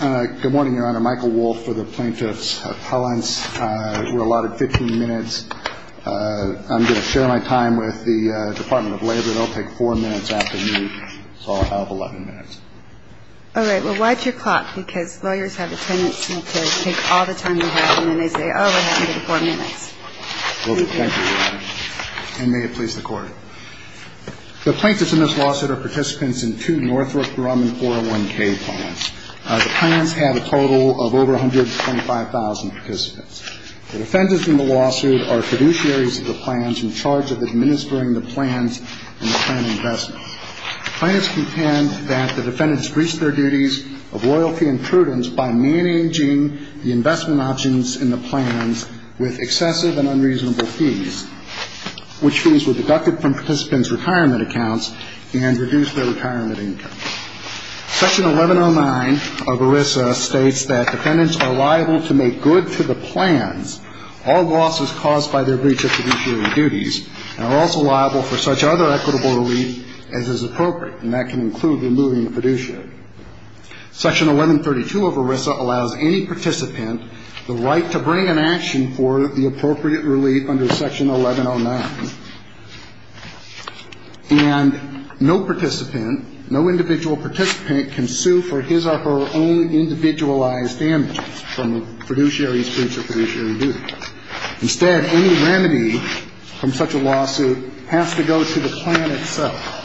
Good morning, Your Honor. Michael Wolfe for the Plaintiffs' Appellants. We're allotted 15 minutes. I'm going to share my time with the Department of Labor. They'll take four minutes after me, so I'll have 11 minutes. All right. Well, watch your clock, because lawyers have a tendency to take all the time you have, and then they say, oh, we have under four minutes. Thank you, Your Honor. And may it please the Court. The plaintiffs in this lawsuit are participants in two Northrop Grumman 401k plans. The plans have a total of over 125,000 participants. The defendants in the lawsuit are fiduciaries of the plans in charge of administering the plans and the plan investments. The plaintiffs contend that the defendants breached their duties of loyalty and prudence by managing the investment options in the plans with excessive and unreasonable fees, which means were deducted from participants' retirement accounts and reduced their retirement income. Section 1109 of ERISA states that defendants are liable to make good to the plans all losses caused by their breach of fiduciary duties, and are also liable for such other equitable relief as is appropriate, and that can include removing the fiduciary. Section 1132 of ERISA allows any participant the right to bring an action for the appropriate relief under Section 1109. And no participant, no individual participant can sue for his or her own individualized damages from fiduciary breach of fiduciary duty. Instead, any remedy from such a lawsuit has to go to the plan itself.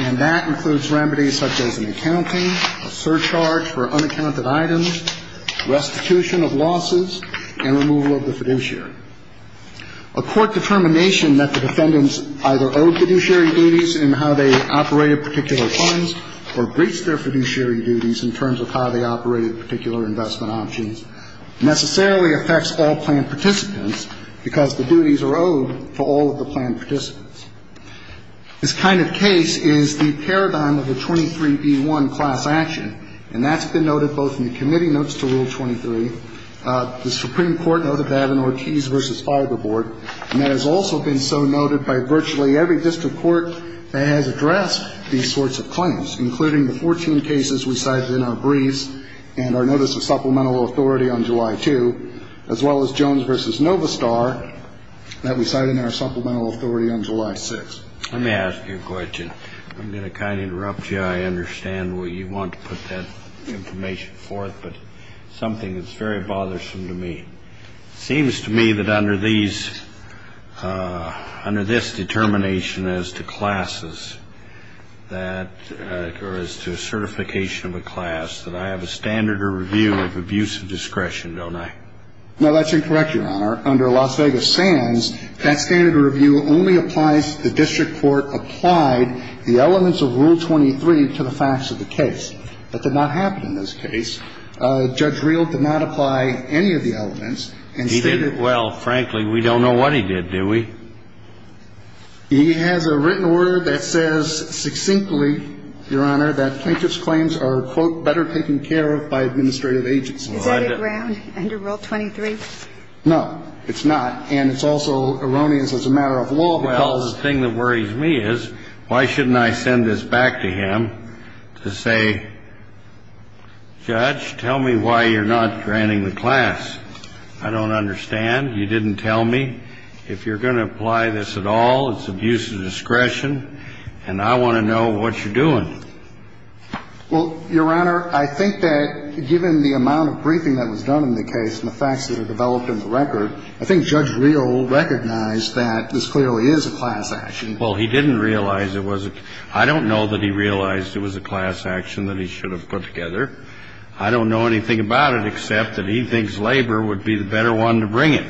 And that includes remedies such as an accounting, a surcharge for unaccounted items, restitution of losses, and removal of the fiduciary. A court determination that the defendants either owed fiduciary duties in how they operated particular funds or breached their fiduciary duties in terms of how they operated particular investment options necessarily affects all plan participants because the duties are owed to all of the plan participants. This kind of case is the paradigm of a 23B1 class action, and that's been noted both in the committee notes to Rule 23, the Supreme Court note of Avinortiz v. Fiberboard, and that has also been so noted by virtually every district court that has addressed these sorts of claims, including the 14 cases we cited in our briefs and our notice of supplemental authority on July 2, as well as Jones v. Novistar that we cite in our supplemental authority on July 6. Let me ask you a question. I'm going to kind of interrupt you. I understand where you want to put that information forth, but something that's very bothersome to me. It seems to me that under these, under this determination as to classes that, or as to certification of a class, that I have a standard of review of abuse of discretion, don't I? No, that's incorrect, Your Honor. Under Las Vegas Sands, that standard of review only applies to the district court applied the elements of Rule 23 to the facts of the case. That did not happen in this case. Judge Rehl did not apply any of the elements and stated that he did not apply any of the elements. Judge Rehl did not apply any of the elements. He did. Well, frankly, we don't know what he did, do we? He has a written order that says succinctly, Your Honor, that plaintiff's claims are, quote, better taken care of by administrative agents. Is that a ground under Rule 23? No, it's not. And it's also erroneous as a matter of law because the thing that worries me is why shouldn't I send this back to him to say, Judge, tell me why you're not granting the class? I don't understand. You didn't tell me. If you're going to apply this at all, it's abuse of discretion, and I want to know what you're doing. Well, Your Honor, I think that given the amount of briefing that was done in the case and the facts that are developed in the record, I think Judge Rehl recognized that this clearly is a class action. Well, he didn't realize it was a – I don't know that he realized it was a class action that he should have put together. I don't know anything about it except that he thinks labor would be the better one to bring in.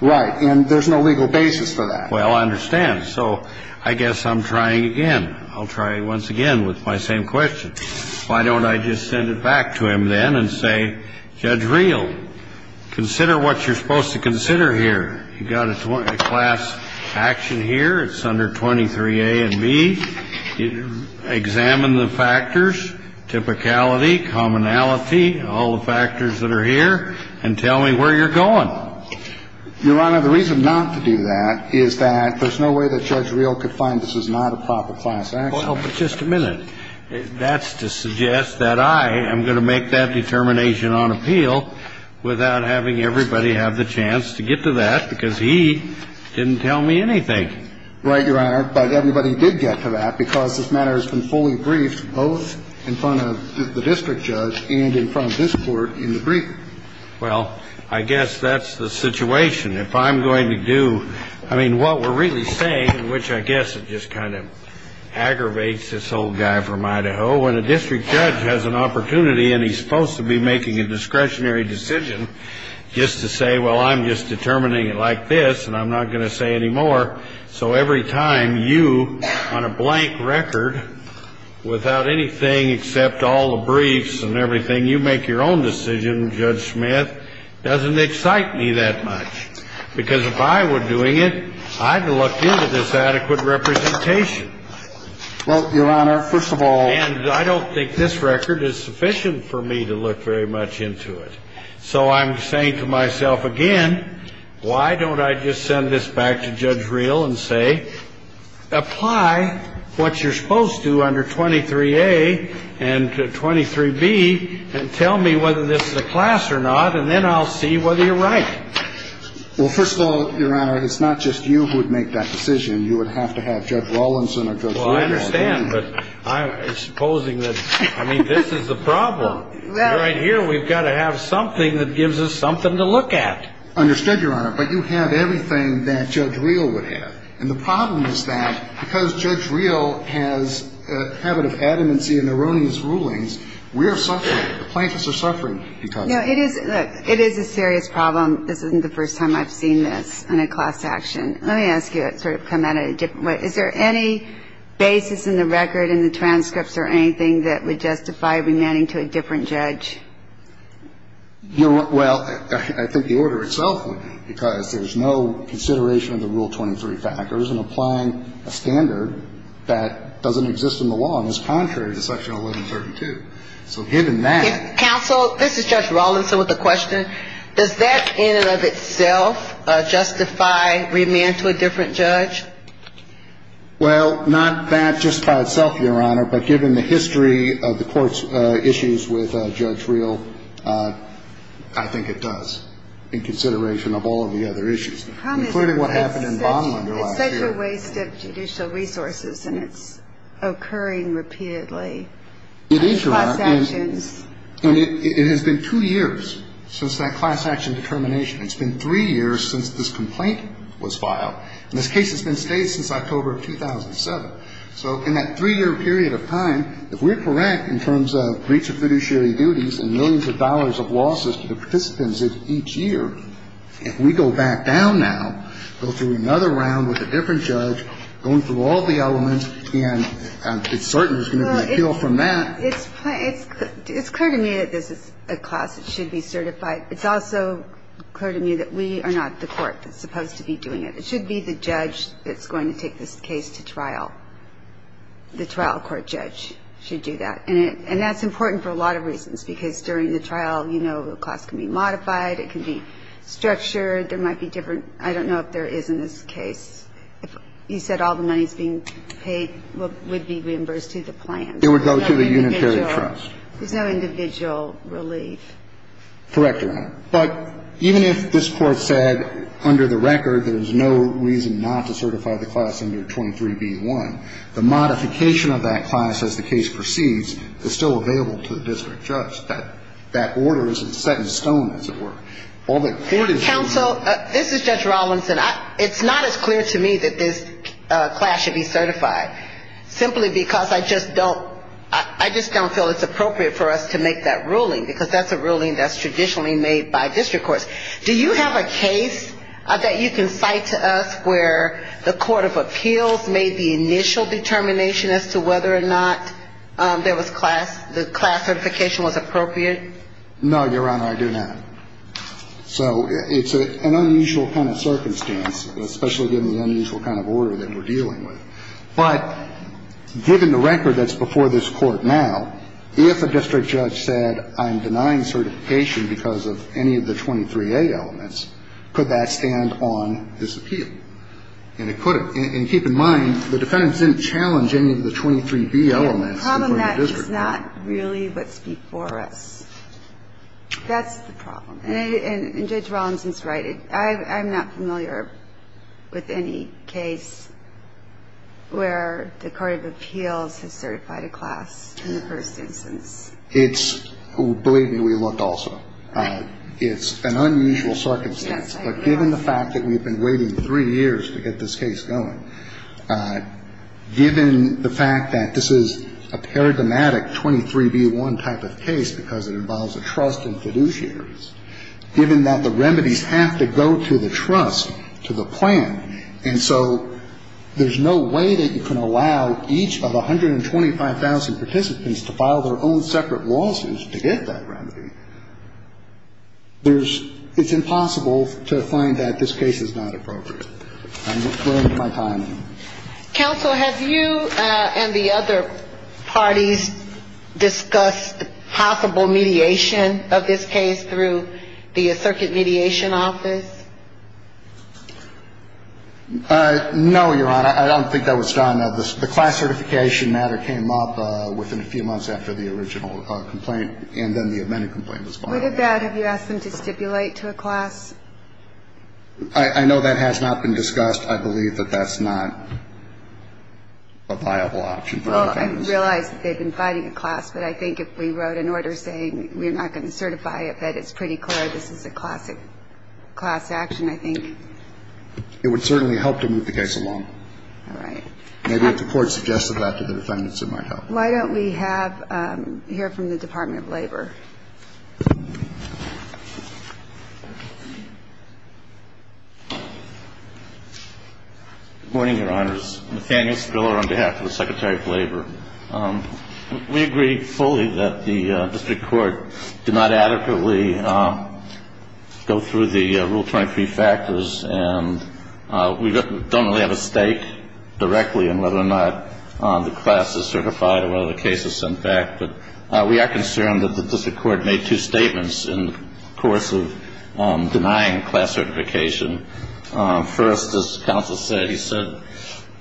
Right. And there's no legal basis for that. Well, I understand. So I guess I'm trying again. I'll try once again with my same question. Why don't I just send it back to him then and say, Judge Rehl, consider what you're supposed to consider here. You've got a class action here. It's under 23A and B. Examine the factors, typicality, commonality, all the factors that are here, and tell me where you're going. Your Honor, the reason not to do that is that there's no way that Judge Rehl could find this is not a proper class action. Well, but just a minute. That's to suggest that I am going to make that determination on appeal without having everybody have the chance to get to that because he didn't tell me anything. Right, Your Honor. But everybody did get to that because this matter has been fully briefed both in front of the district judge and in front of this Court in the brief. Well, I guess that's the situation. If I'm going to do, I mean, what we're really saying, which I guess it just kind of aggravates this old guy from Idaho. When a district judge has an opportunity and he's supposed to be making a discretionary decision just to say, well, I'm just determining it like this and I'm not going to say any more. So every time you, on a blank record, without anything except all the briefs and everything, you make your own decision, Judge Smith, doesn't excite me that much. Because if I were doing it, I'd look into this adequate representation. Well, Your Honor, first of all. And I don't think this record is sufficient for me to look very much into it. So I'm saying to myself again, why don't I just send this back to Judge Reel and say, apply what you're supposed to under 23A and 23B and tell me whether this is a class or not. And then I'll see whether you're right. Well, first of all, Your Honor, it's not just you who would make that decision. You would have to have Judge Rawlinson or Judge Reel. Well, I understand. But I'm supposing that, I mean, this is the problem. Right here, we've got to have something that gives us something to look at. Understood, Your Honor. But you have everything that Judge Reel would have. And the problem is that because Judge Reel has a habit of adamancy and erroneous rulings, we are suffering. The plaintiffs are suffering because of it. It is a serious problem. This isn't the first time I've seen this in a class action. I'm going to ask you a question. Let me ask you, sort of come at it a different way. Is there any basis in the record, in the transcripts or anything that would justify remanding to a different judge? Well, I think the order itself would. Because there's no consideration of the Rule 23 factors in applying a standard that doesn't exist in the law and is contrary to Section 1132. So given that. Counsel, this is Judge Rawlinson with a question. Does that in and of itself justify remand to a different judge? Well, not that just by itself, Your Honor. But given the history of the court's issues with Judge Reel, I think it does, in consideration of all of the other issues. Including what happened in Bonlander last year. It's such a waste of judicial resources, and it's occurring repeatedly. It is, Your Honor. Class actions. And it has been two years since that class action determination. It's been three years since this complaint was filed. And this case has been staged since October of 2007. So in that three-year period of time, if we're correct in terms of breach of fiduciary duties and millions of dollars of losses to the participants each year, if we go back down now, go through another round with a different judge, going through all the elements, and it's certain there's going to be an appeal from that. It's clear to me that this is a class that should be certified. It's also clear to me that we are not the court that's supposed to be doing it. It should be the judge that's going to take this case to trial. The trial court judge should do that. And that's important for a lot of reasons, because during the trial, you know, the class can be modified. It can be structured. There might be different. I don't know if there is in this case. You said all the money is being paid would be reimbursed to the plan. It would go to the unitary trust. There's no individual relief. Correct, Your Honor. But even if this Court said under the record there's no reason not to certify the class under 23b-1, the modification of that class as the case proceeds is still available to the district judge. That order isn't set in stone, as it were. All the court is doing is modifying it. It's clear to me that this class should be certified, simply because I just don't feel it's appropriate for us to make that ruling, because that's a ruling that's traditionally made by district courts. Do you have a case that you can cite to us where the Court of Appeals made the initial determination as to whether or not the class certification was appropriate? No, Your Honor, I do not. So it's an unusual kind of circumstance, especially given the unusual kind of order that we're dealing with. But given the record that's before this Court now, if a district judge said I'm denying certification because of any of the 23a elements, could that stand on this appeal? And it could have. And keep in mind, the defendants didn't challenge any of the 23b elements. It's the problem that it's not really what's before us. That's the problem. And Judge Rollins is right. I'm not familiar with any case where the Court of Appeals has certified a class in the first instance. Believe me, we looked also. It's an unusual circumstance. But given the fact that we've been waiting three years to get this case going, given the fact that this is a paradigmatic 23b-1 type of case because it involves a trust in fiduciaries, given that the remedies have to go to the trust, to the plan, and so there's no way that you can allow each of 125,000 participants to file their own separate lawsuits to get that remedy, there's ‑‑ it's impossible to find that this case is not appropriate. I'm running out of my time. Counsel, have you and the other parties discussed possible mediation of this case through the Circuit Mediation Office? No, Your Honor. I don't think that was done. The class certification matter came up within a few months after the original complaint, and then the amended complaint was filed. Would have that if you asked them to stipulate to a class? I know that has not been discussed. I believe that that's not a viable option. Well, I realize that they've been fighting a class, but I think if we wrote an order saying we're not going to certify it, that it's pretty clear this is a class action, I think. It would certainly help to move the case along. All right. Maybe if the Court suggested that to the defendants, it might help. Why don't we have ‑‑ hear from the Department of Labor. Good morning, Your Honors. Nathaniel Spiller on behalf of the Secretary of Labor. We agree fully that the district court did not adequately go through the Rule 23 factors, and we don't really have a stake directly in whether or not the class is certified or whether the case is sent back. But we are concerned that the district court made two statements in the course of denying class certification. First, as counsel said, he said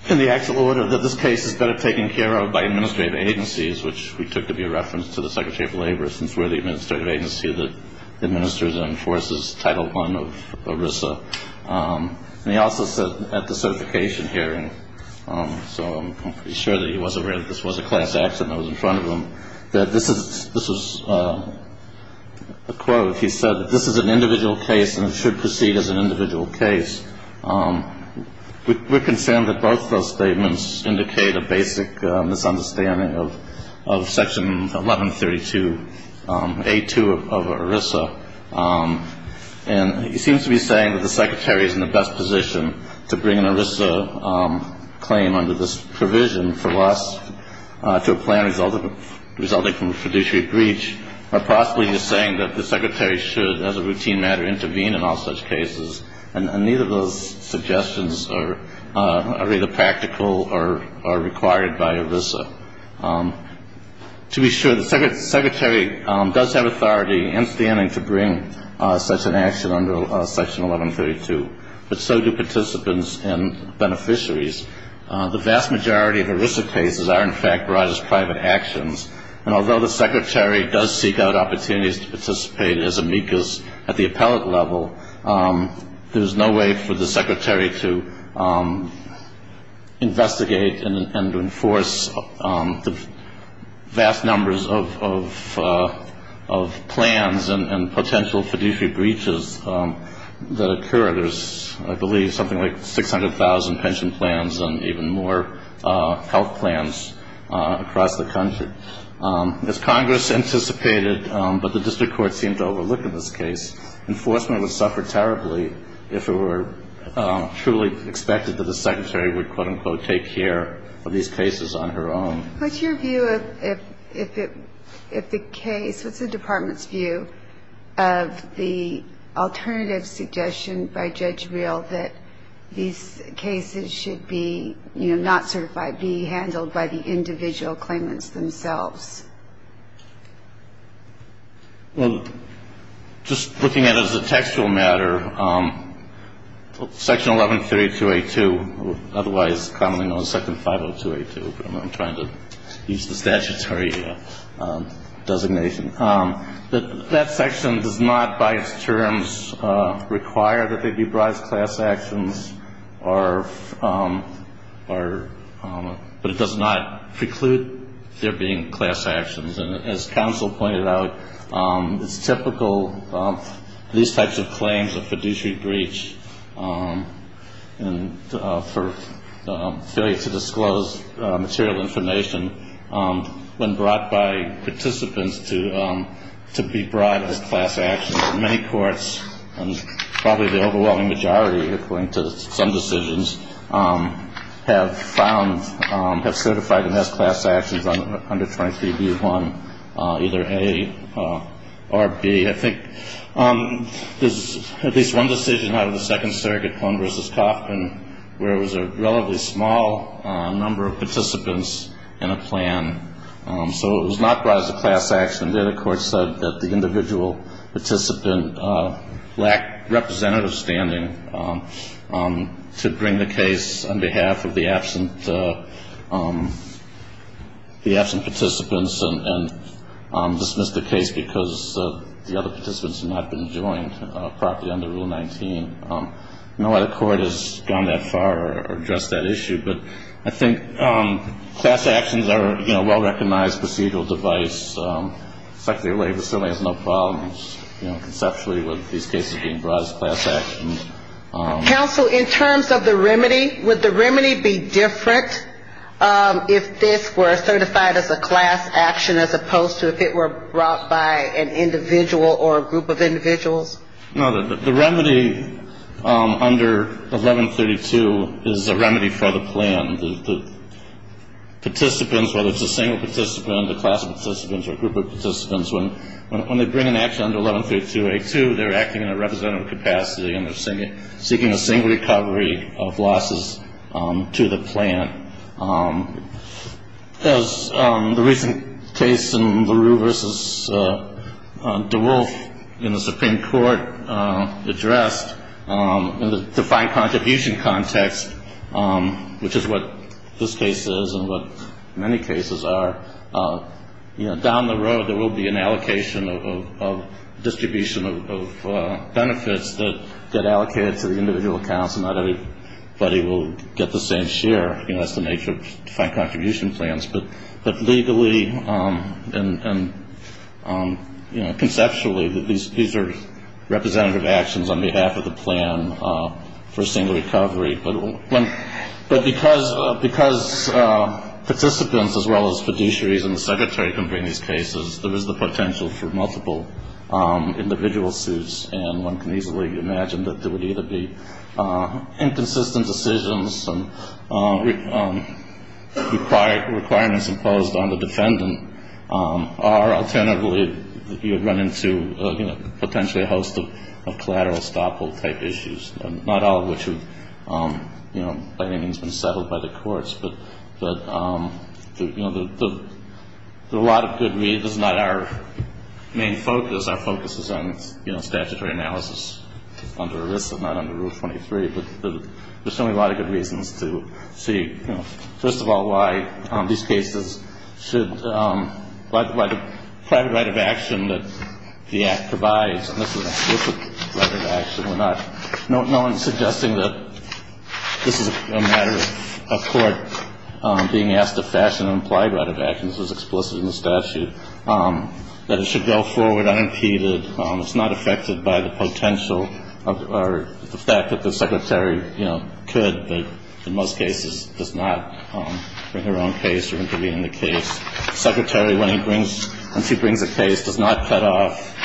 in the actual order that this case is better taken care of by administrative agencies, which we took to be a reference to the Secretary of Labor, for instance, where the administrative agency that administers and enforces Title I of ERISA. And he also said at the certification hearing, so I'm pretty sure that he was aware that this was a class action that was in front of him, that this was a quote. He said that this is an individual case and it should proceed as an individual case. We're concerned that both those statements indicate a basic misunderstanding of Section 1132A2 of ERISA. And he seems to be saying that the Secretary is in the best position to bring an ERISA claim under this provision to a plan resulting from a fiduciary breach, or possibly he's saying that the Secretary should, as a routine matter, intervene in all such cases. And neither of those suggestions are either practical or required by ERISA. To be sure, the Secretary does have authority and standing to bring such an action under Section 1132, but so do participants and beneficiaries. The vast majority of ERISA cases are, in fact, brought as private actions. And although the Secretary does seek out opportunities to participate as amicus at the appellate level, there's no way for the Secretary to investigate and enforce the vast numbers of plans and potential fiduciary breaches that occur. There's, I believe, something like 600,000 pension plans and even more health plans across the country. As Congress anticipated, but the district court seemed to overlook in this case, enforcement would suffer terribly if it were truly expected that the Secretary would, quote, unquote, take care of these cases on her own. What's your view if the case, what's the Department's view of the alternative suggestion by Judge Reel that these cases should be, you know, not certified, be handled by the individual claimants themselves? Well, just looking at it as a textual matter, Section 1132A2, otherwise commonly known as Section 50282, I'm trying to use the statutory designation, that that section does not, by its terms, require that they be brought as class actions, but it does not preclude there being class actions. And as counsel pointed out, it's typical, these types of claims of fiduciary breach and for failure to disclose material information when brought by participants to be brought as class actions. Many courts, and probably the overwhelming majority, according to some decisions, have found, have certified them as class actions under 23B1, either A or B. I think there's at least one decision out of the Second Circuit, Cohen v. Kaufman, where it was a relatively small number of participants in a plan. So it was not brought as a class action. The other court said that the individual participant lacked representative standing to bring the case on behalf of the absent participants and dismissed the case because the other participants had not been joined properly under Rule 19. No other court has gone that far or addressed that issue, but I think class actions are a well-recognized procedural device. The Secretary of Labor certainly has no problems, you know, conceptually with these cases being brought as class actions. Counsel, in terms of the remedy, would the remedy be different if this were certified as a class action as opposed to if it were brought by an individual or a group of individuals? No, the remedy under 1132 is a remedy for the plan. The participants, whether it's a single participant, a class of participants, or a group of participants, when they bring an action under 1132A2, they're acting in a representative capacity and they're seeking a single recovery of losses to the plan. As the recent case in LaRue v. DeWolf in the Supreme Court addressed, in the defined contribution context, which is what this case is and what many cases are, you know, down the road there will be an allocation of distribution of benefits that get allocated to the individual accounts and not everybody will get the same share. You know, that's the nature of defined contribution plans. But legally and, you know, conceptually, these are representative actions on behalf of the plan for a single recovery. But because participants as well as fiduciaries and the secretary can bring these cases, there is the potential for multiple individual suits, and one can easily imagine that there would either be inconsistent decisions and requirements imposed on the defendant or alternatively you would run into, you know, by any means been settled by the courts. But, you know, there are a lot of good reasons. It's not our main focus. Our focus is on, you know, statutory analysis under ERISA, not under Rule 23. But there's certainly a lot of good reasons to see, you know, first of all, why these cases should, by the private right of action that the Act provides, and this is an explicit right of action. We're not suggesting that this is a matter of court being asked to fashion and apply right of actions as explicit in the statute, that it should go forward unimpeded. It's not affected by the potential or the fact that the secretary, you know, could but in most cases does not bring her own case or intervene in the case. The secretary, when she brings a case, does not cut off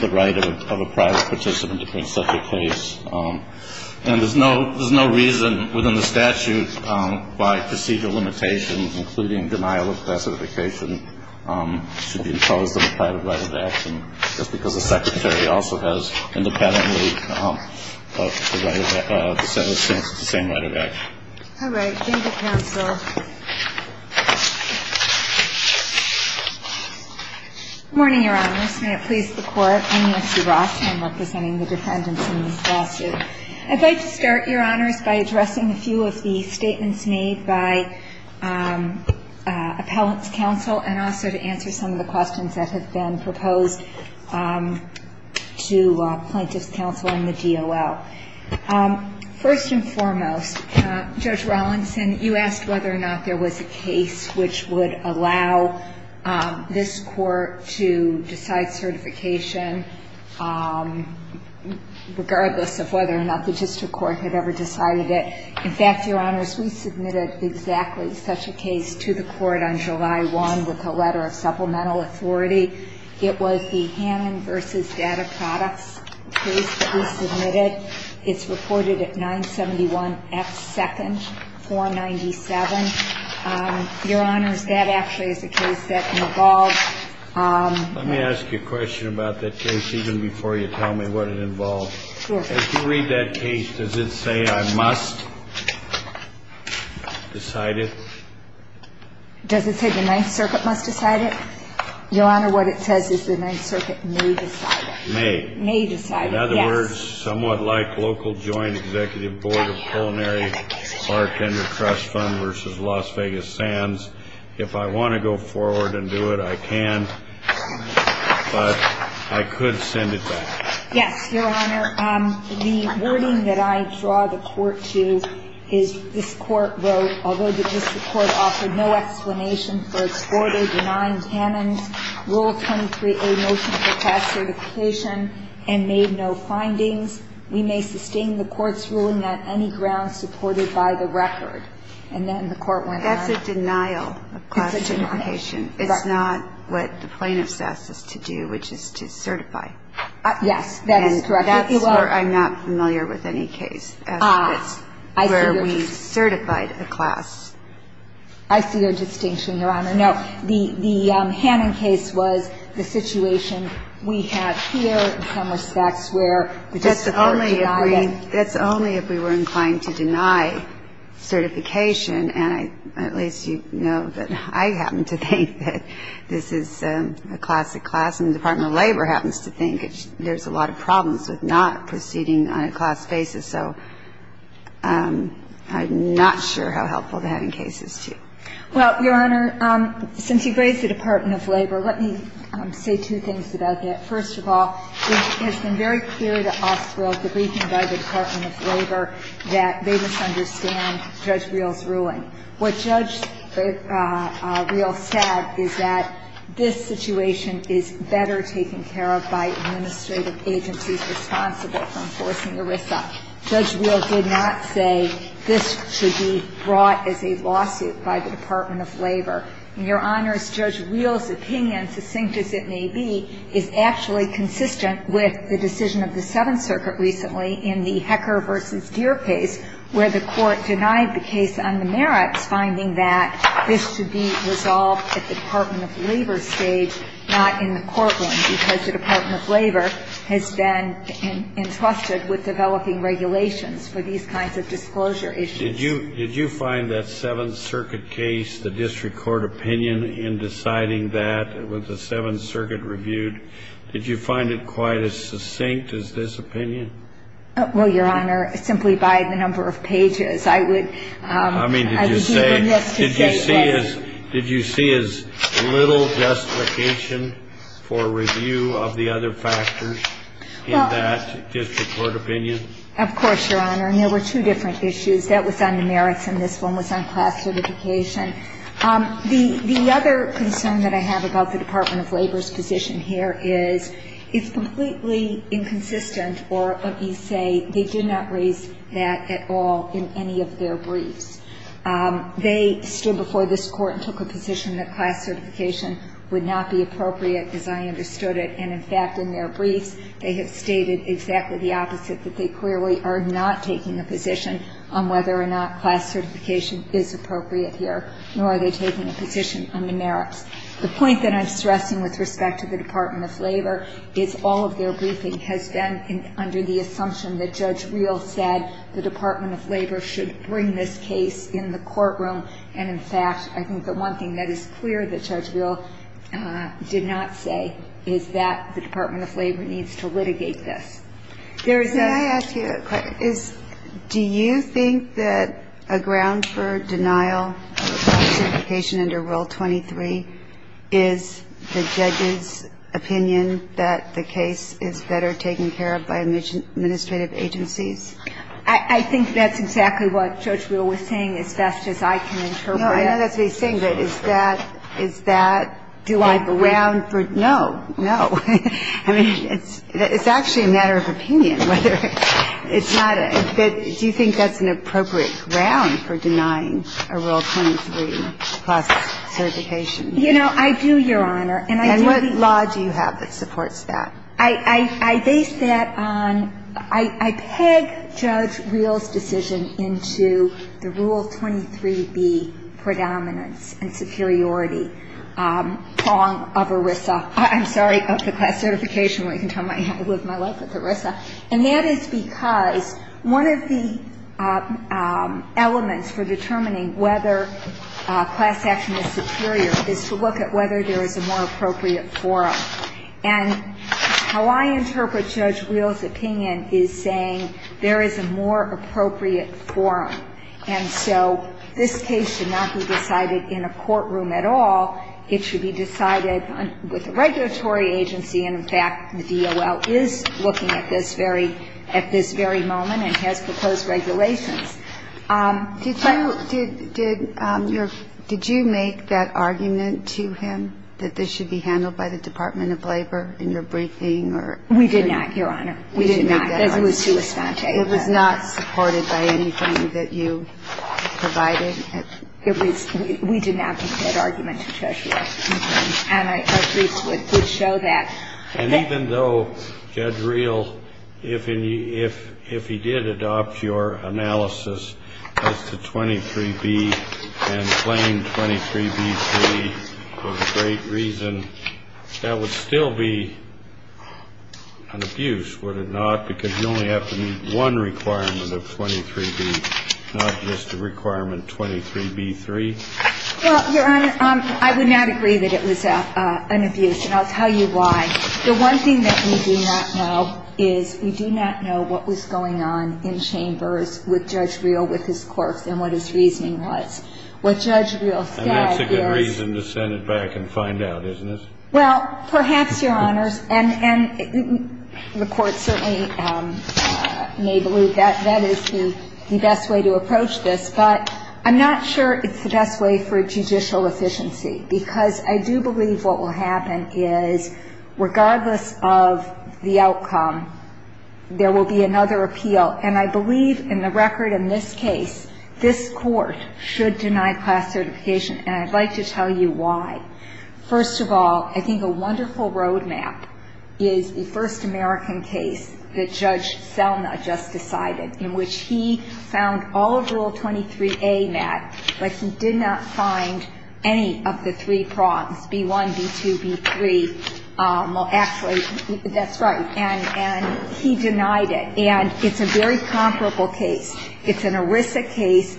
the right of a private participant to bring such a case. And there's no reason within the statute why procedural limitations, including denial of classification, should be imposed on the private right of action, just because the secretary also has independently the same right of action. All right. Gender counsel. Good morning, Your Honors. May it please the Court. I'm Nancy Ross. I'm representing the defendants in this lawsuit. I'd like to start, Your Honors, by addressing a few of the statements made by Appellant's Counsel and also to answer some of the questions that have been proposed to Plaintiff's Counsel and the DOL. First and foremost, Judge Rawlinson, you asked whether or not there was a case which would allow this Court to decide certification regardless of whether or not the district court had ever decided it. In fact, Your Honors, we submitted exactly such a case to the Court on July 1 with a letter of supplemental authority. It was the Hannon v. Data Products case that we submitted. It's reported at 971 F. 2nd, 497. Your Honors, that actually is a case that involved ---- Let me ask you a question about that case even before you tell me what it involved. Sure. If you read that case, does it say I must decide it? Does it say the Ninth Circuit must decide it? Your Honor, what it says is the Ninth Circuit may decide it. May. May decide it, yes. In other words, somewhat like local joint executive board of culinary or tender trust fund versus Las Vegas Sands, if I want to go forward and do it, I can, but I could send it back. Yes, Your Honor. The wording that I draw the Court to is this Court wrote, although the district court offered no explanation for exported, denying Hannon's Rule 23A motion for class certification and made no findings, we may sustain the Court's ruling on any grounds supported by the record. And then the Court went on. That's a denial of class certification. It's a denial. It's not what the plaintiff's asked us to do, which is to certify. Yes, that is correct, if you will. And that's where I'm not familiar with any case. I see your distinction, Your Honor. No. The Hannon case was the situation we have here in some respects where the Court denied it. That's only if we were inclined to deny certification, and at least you know that I happen to think that this is a classic class, and the Department of Labor happens to think there's a lot of problems with not proceeding on a class basis. So I'm not sure how helpful the Hannon case is to you. Well, Your Honor, since you raised the Department of Labor, let me say two things about that. First of all, it has been very clear to us throughout the briefing by the Department of Labor that they misunderstand Judge Reel's ruling. What Judge Reel said is that this situation is better taken care of by administrative agencies responsible for enforcing ERISA. Judge Reel did not say this should be brought as a lawsuit by the Department of Labor. And, Your Honors, Judge Reel's opinion, succinct as it may be, is actually consistent with the decision of the Seventh Circuit recently in the Hecker v. Deer case, where the Court denied the case on the merits, finding that this should be resolved at the Department of Labor stage, not in the courtroom, because the Department of Labor has been entrusted with developing regulations for these kinds of disclosure issues. Did you find that Seventh Circuit case, the district court opinion in deciding that, with the Seventh Circuit reviewed, did you find it quite as succinct as this opinion? Well, Your Honor, simply by the number of pages. I would agree with this to this day. Did you see as little justification for review of the other factors in that district court opinion? Of course, Your Honor. And there were two different issues. That was on the merits, and this one was on class certification. The other concern that I have about the Department of Labor's position here is it's completely inconsistent, or, let me say, they did not raise that at all in any of their briefs. They stood before this Court and took a position that class certification would not be appropriate, as I understood it. And, in fact, in their briefs, they have stated exactly the opposite, that they clearly are not taking a position on whether or not class certification is appropriate here, nor are they taking a position on the merits. The point that I'm stressing with respect to the Department of Labor is all of their briefing has been under the assumption that Judge Reel said the Department of Labor should bring this case in the courtroom. And, in fact, I think the one thing that is clear that Judge Reel did not say is that the Department of Labor needs to litigate this. There is a ---- May I ask you a question? Do you think that a ground for denial of class certification under Rule 23 is the judge's opinion that the case is better taken care of by administrative agencies? I think that's exactly what Judge Reel was saying as best as I can interpret. No, I know that's what he's saying, but is that ---- Do I believe it? No, no. I mean, it's actually a matter of opinion whether it's not a ---- Do you think that's an appropriate ground for denying a Rule 23 class certification? You know, I do, Your Honor. And I do believe ---- And what law do you have that supports that? I base that on ---- I peg Judge Reel's decision into the Rule 23B predominance and superiority prong of ERISA. I'm sorry, of the class certification. I live my life with ERISA. And that is because one of the elements for determining whether class action is superior is to look at whether there is a more appropriate forum. And how I interpret Judge Reel's opinion is saying there is a more appropriate forum. And so this case should not be decided in a courtroom at all. It should be decided with a regulatory agency. And, in fact, the DOL is looking at this very moment and has proposed regulations. Did you make that argument to him that this should be handled by the Department of Labor in your briefing or ---- We did not, Your Honor. We did not. It was too espontaneous. It was not supported by anything that you provided. It was ---- we did not make that argument to Judge Reel. And our briefs would show that. And even though Judge Reel, if he did adopt your analysis as to 23B and claimed that 23B3 was a great reason, that would still be an abuse, would it not? Because you only have to meet one requirement of 23B, not just a requirement 23B3. Well, Your Honor, I would not agree that it was an abuse. And I'll tell you why. The one thing that we do not know is we do not know what was going on in chambers with Judge Reel with his courts and what his reasoning was. What Judge Reel said is ---- And that's a good reason to send it back and find out, isn't it? Well, perhaps, Your Honors. And the Court certainly may believe that that is the best way to approach this. But I'm not sure it's the best way for judicial efficiency, because I do believe what will happen is, regardless of the outcome, there will be another appeal. And I believe in the record in this case, this Court should deny class certification. And I'd like to tell you why. First of all, I think a wonderful roadmap is the first American case that Judge Selma just decided, in which he found all of Rule 23A met, but he did not find any of the three prongs, B1, B2, B3. Well, actually, that's right. And he denied it. And it's a very comparable case. It's an ERISA case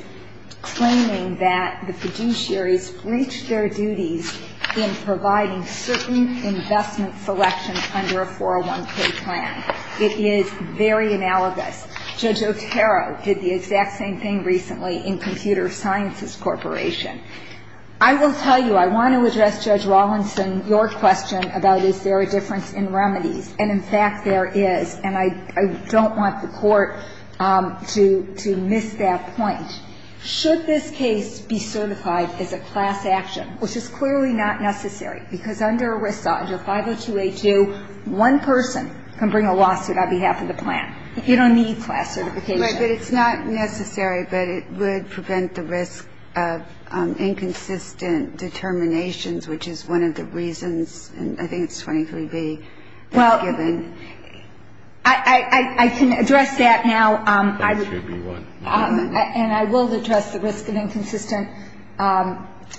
claiming that the fiduciaries breached their duties in providing certain investment selections under a 401k plan. It is very analogous. Judge Otero did the exact same thing recently in Computer Sciences Corporation. I will tell you, I want to address, Judge Rawlinson, your question about is there a difference in remedies. And, in fact, there is. And I don't want the Court to miss that point. Should this case be certified as a class action, which is clearly not necessary, because under ERISA, under 502A2, one person can bring a lawsuit on behalf of the plan. You don't need class certification. But it's not necessary, but it would prevent the risk of inconsistent determinations, which is one of the reasons, and I think it's 23B. Well, I can address that now. And I will address the risk of inconsistent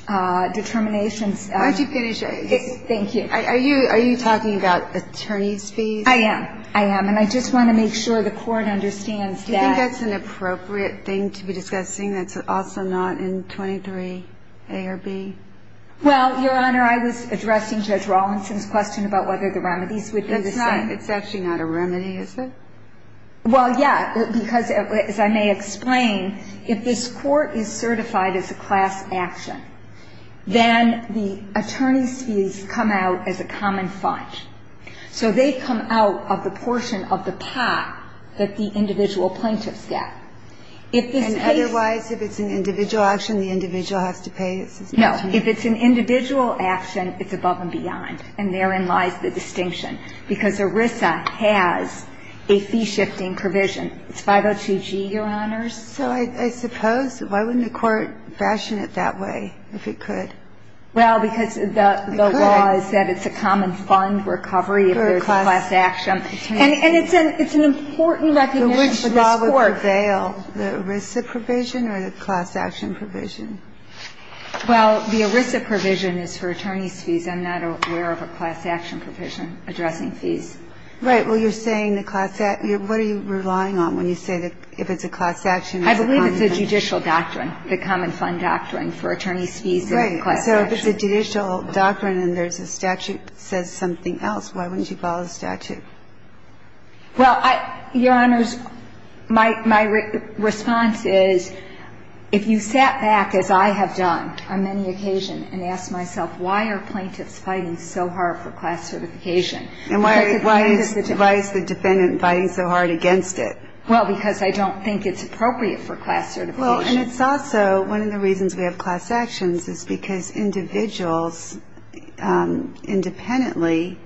determinations. Why don't you finish? Thank you. Are you talking about attorney's fees? I am. I am. And I just want to make sure the Court understands that. Do you think that's an appropriate thing to be discussing that's also not in 23A or B? Well, Your Honor, I was addressing Judge Rawlinson's question about whether the remedies would be the same. It's not. It's actually not a remedy, is it? Well, yeah, because, as I may explain, if this Court is certified as a class action, then the attorney's fees come out as a common fund. So they come out of the portion of the pot that the individual plaintiffs get. If this case And otherwise, if it's an individual action, the individual has to pay? No. If it's an individual action, it's above and beyond. And therein lies the distinction. Because ERISA has a fee-shifting provision. It's 502G, Your Honors. So I suppose, why wouldn't the Court fashion it that way, if it could? Well, because the law is that it's a common fund recovery if there's a class action. And it's an important recognition for this Court. And I'm not aware of a class action provision addressing fees. Right. Well, you're saying the class action. What are you relying on when you say that if it's a class action, it's a common fund? I believe it's a judicial doctrine, the common fund doctrine for attorney's fees and the class action. Right. So if it's a judicial doctrine and there's a statute that says something else, why wouldn't you follow the statute? Well, Your Honors, my response is, if you sat back, as I have done on many occasions, and asked myself, why are plaintiffs fighting so hard for class certification? And why is the defendant fighting so hard against it? Well, because I don't think it's appropriate for class certification. Well, and it's also one of the reasons we have class actions is because individuals independently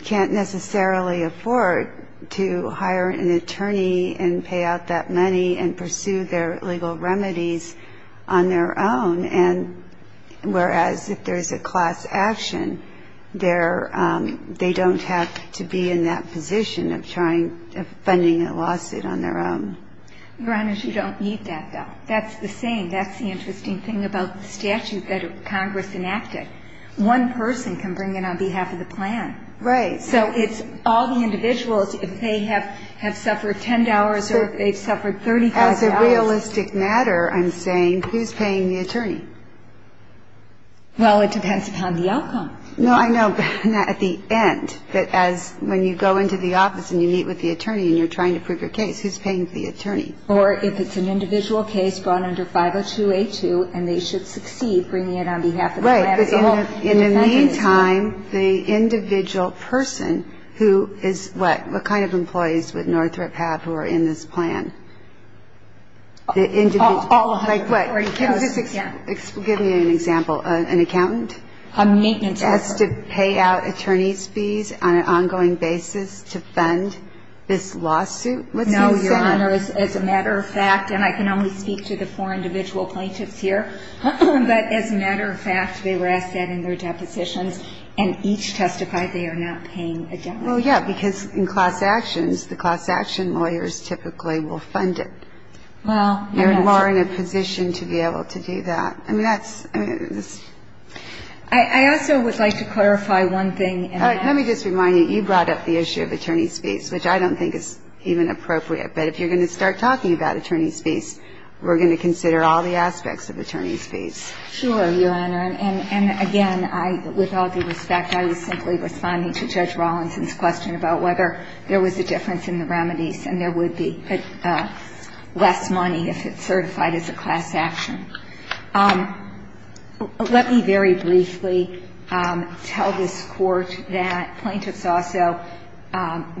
can't necessarily afford to hire an attorney and pay out that money and pursue their legal remedies on their own. And whereas if there's a class action, they're they don't have to be in that position of trying funding a lawsuit on their own. Your Honors, you don't need that, though. That's the same. That's the interesting thing about the statute that Congress enacted. One person can bring in on behalf of the plan. Right. So it's all the individuals, if they have suffered $10 or if they've suffered $35. As a realistic matter, I'm saying, who's paying the attorney? Well, it depends upon the outcome. No, I know, but not at the end. But as when you go into the office and you meet with the attorney and you're trying to prove your case, who's paying the attorney? Or if it's an individual case gone under 502A2, and they should succeed bringing it on behalf of the plan as a whole. Right. In the meantime, the individual person who is what? What kind of employees would Northrop have who are in this plan? All of them. Like what? Give me an example. An accountant? A maintenance officer. Has to pay out attorney's fees on an ongoing basis to fund this lawsuit? No, Your Honor. As a matter of fact, and I can only speak to the four individual plaintiffs here, but as a matter of fact, they were asked that in their depositions, and each testified they are not paying a dime. Well, yeah, because in class actions, the class action lawyers typically will fund it. Well, yes. You are in a position to be able to do that. I mean, that's, I mean, this. I also would like to clarify one thing. Let me just remind you, you brought up the issue of attorney's fees, which I don't think is even appropriate. But if you're going to start talking about attorney's fees, we're going to consider all the aspects of attorney's fees. Sure, Your Honor. And, again, with all due respect, I was simply responding to Judge Rawlinson's question about whether there was a difference in the remedies and there would be less money if it's certified as a class action. Let me very briefly tell this Court that plaintiffs also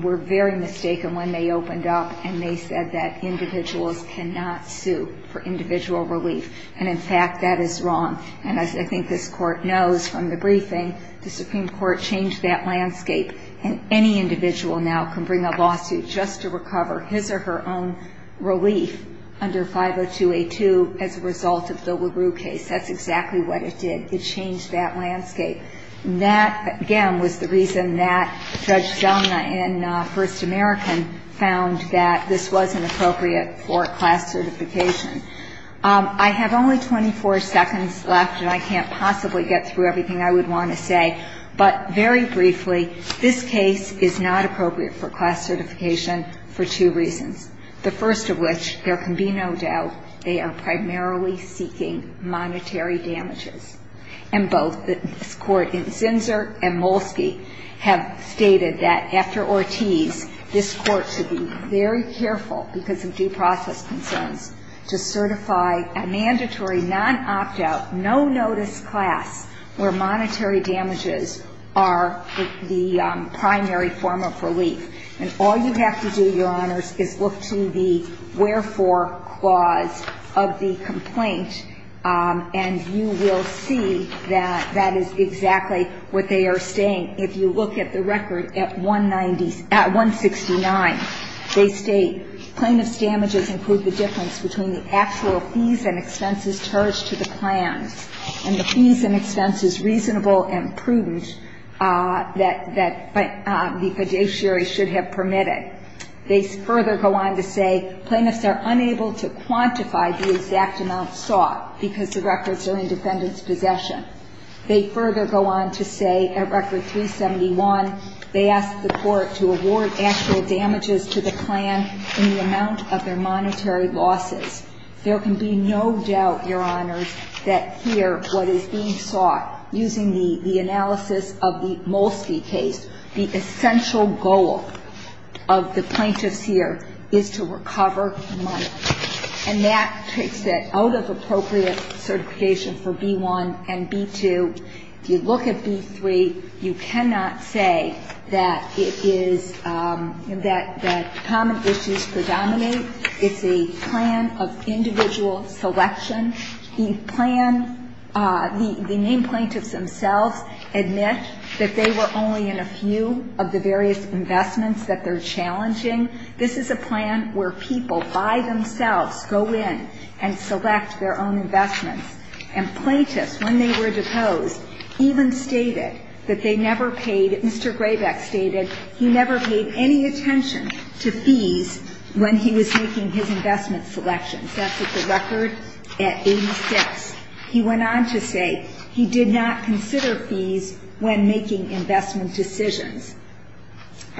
were very mistaken when they opened up and they said that individuals cannot sue for individual relief. And, in fact, that is wrong. And as I think this Court knows from the briefing, the Supreme Court changed that landscape, and any individual now can bring a lawsuit just to recover his or her own relief under 502A2 as a result of the LaRue case. That's exactly what it did. It changed that landscape. That, again, was the reason that Judge Selma in First American found that this wasn't appropriate for class certification. I have only 24 seconds left, and I can't possibly get through everything I would want to say. But very briefly, this case is not appropriate for class certification for two reasons, the first of which, there can be no doubt, they are primarily seeking monetary damages. And both this Court in Zinsser and Molsky have stated that after Ortiz, this Court should be very careful because of due process concerns to certify a mandatory non-opt-out, no-notice class where monetary damages are the primary form of relief. And all you have to do, Your Honors, is look to the wherefore clause of the complaint, and you will see that that is exactly what they are saying. If you look at the record at 190 — at 169, they state, plaintiff's damages include the difference between the actual fees and expenses and the fees and expenses reasonable and prudent that the fiduciary should have permitted. They further go on to say, plaintiffs are unable to quantify the exact amount sought because the records are in defendant's possession. They further go on to say, at Record 371, they ask the Court to award actual damages to the plan in the amount of their monetary losses. There can be no doubt, Your Honors, that here what is being sought, using the analysis of the Molsky case, the essential goal of the plaintiffs here is to recover money. And that takes that out of appropriate certification for B-1 and B-2. If you look at B-3, you cannot say that it is — that common issues predominate. It's a plan of individual selection. The plan — the named plaintiffs themselves admit that they were only in a few of the various investments that they're challenging. This is a plan where people by themselves go in and select their own investments. And plaintiffs, when they were deposed, even stated that they never paid — that they never paid fees when making his investment selections. That's at the record at 86. He went on to say he did not consider fees when making investment decisions.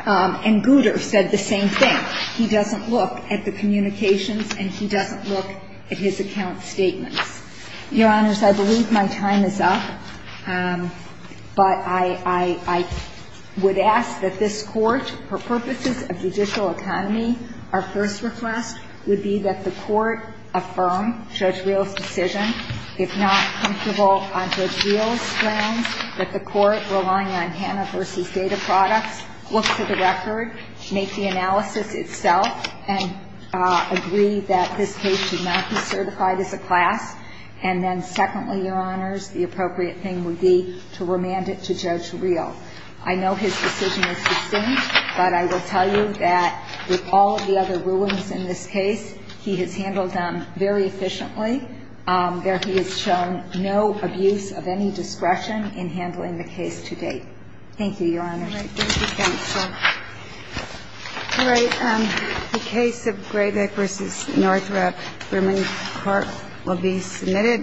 And Gouter said the same thing. He doesn't look at the communications and he doesn't look at his account statements. Your Honors, I believe my time is up. But I would ask that this Court, for purposes of judicial autonomy, our first request would be that the Court affirm Judge Reel's decision. If not comfortable on Judge Reel's grounds, that the Court relying on Hannah v. Data Products look to the record, make the analysis itself, and agree that this case should not be certified as a class. And then secondly, Your Honors, the appropriate thing would be to remand it to Judge Reel. I know his decision is distinct, but I will tell you that with all the other rulings in this case, he has handled them very efficiently. There he has shown no abuse of any discretion in handling the case to date. Thank you, Your Honors. Thank you, counsel. All right. The case of Graybeck v. Northrop, Berman Court will be submitted.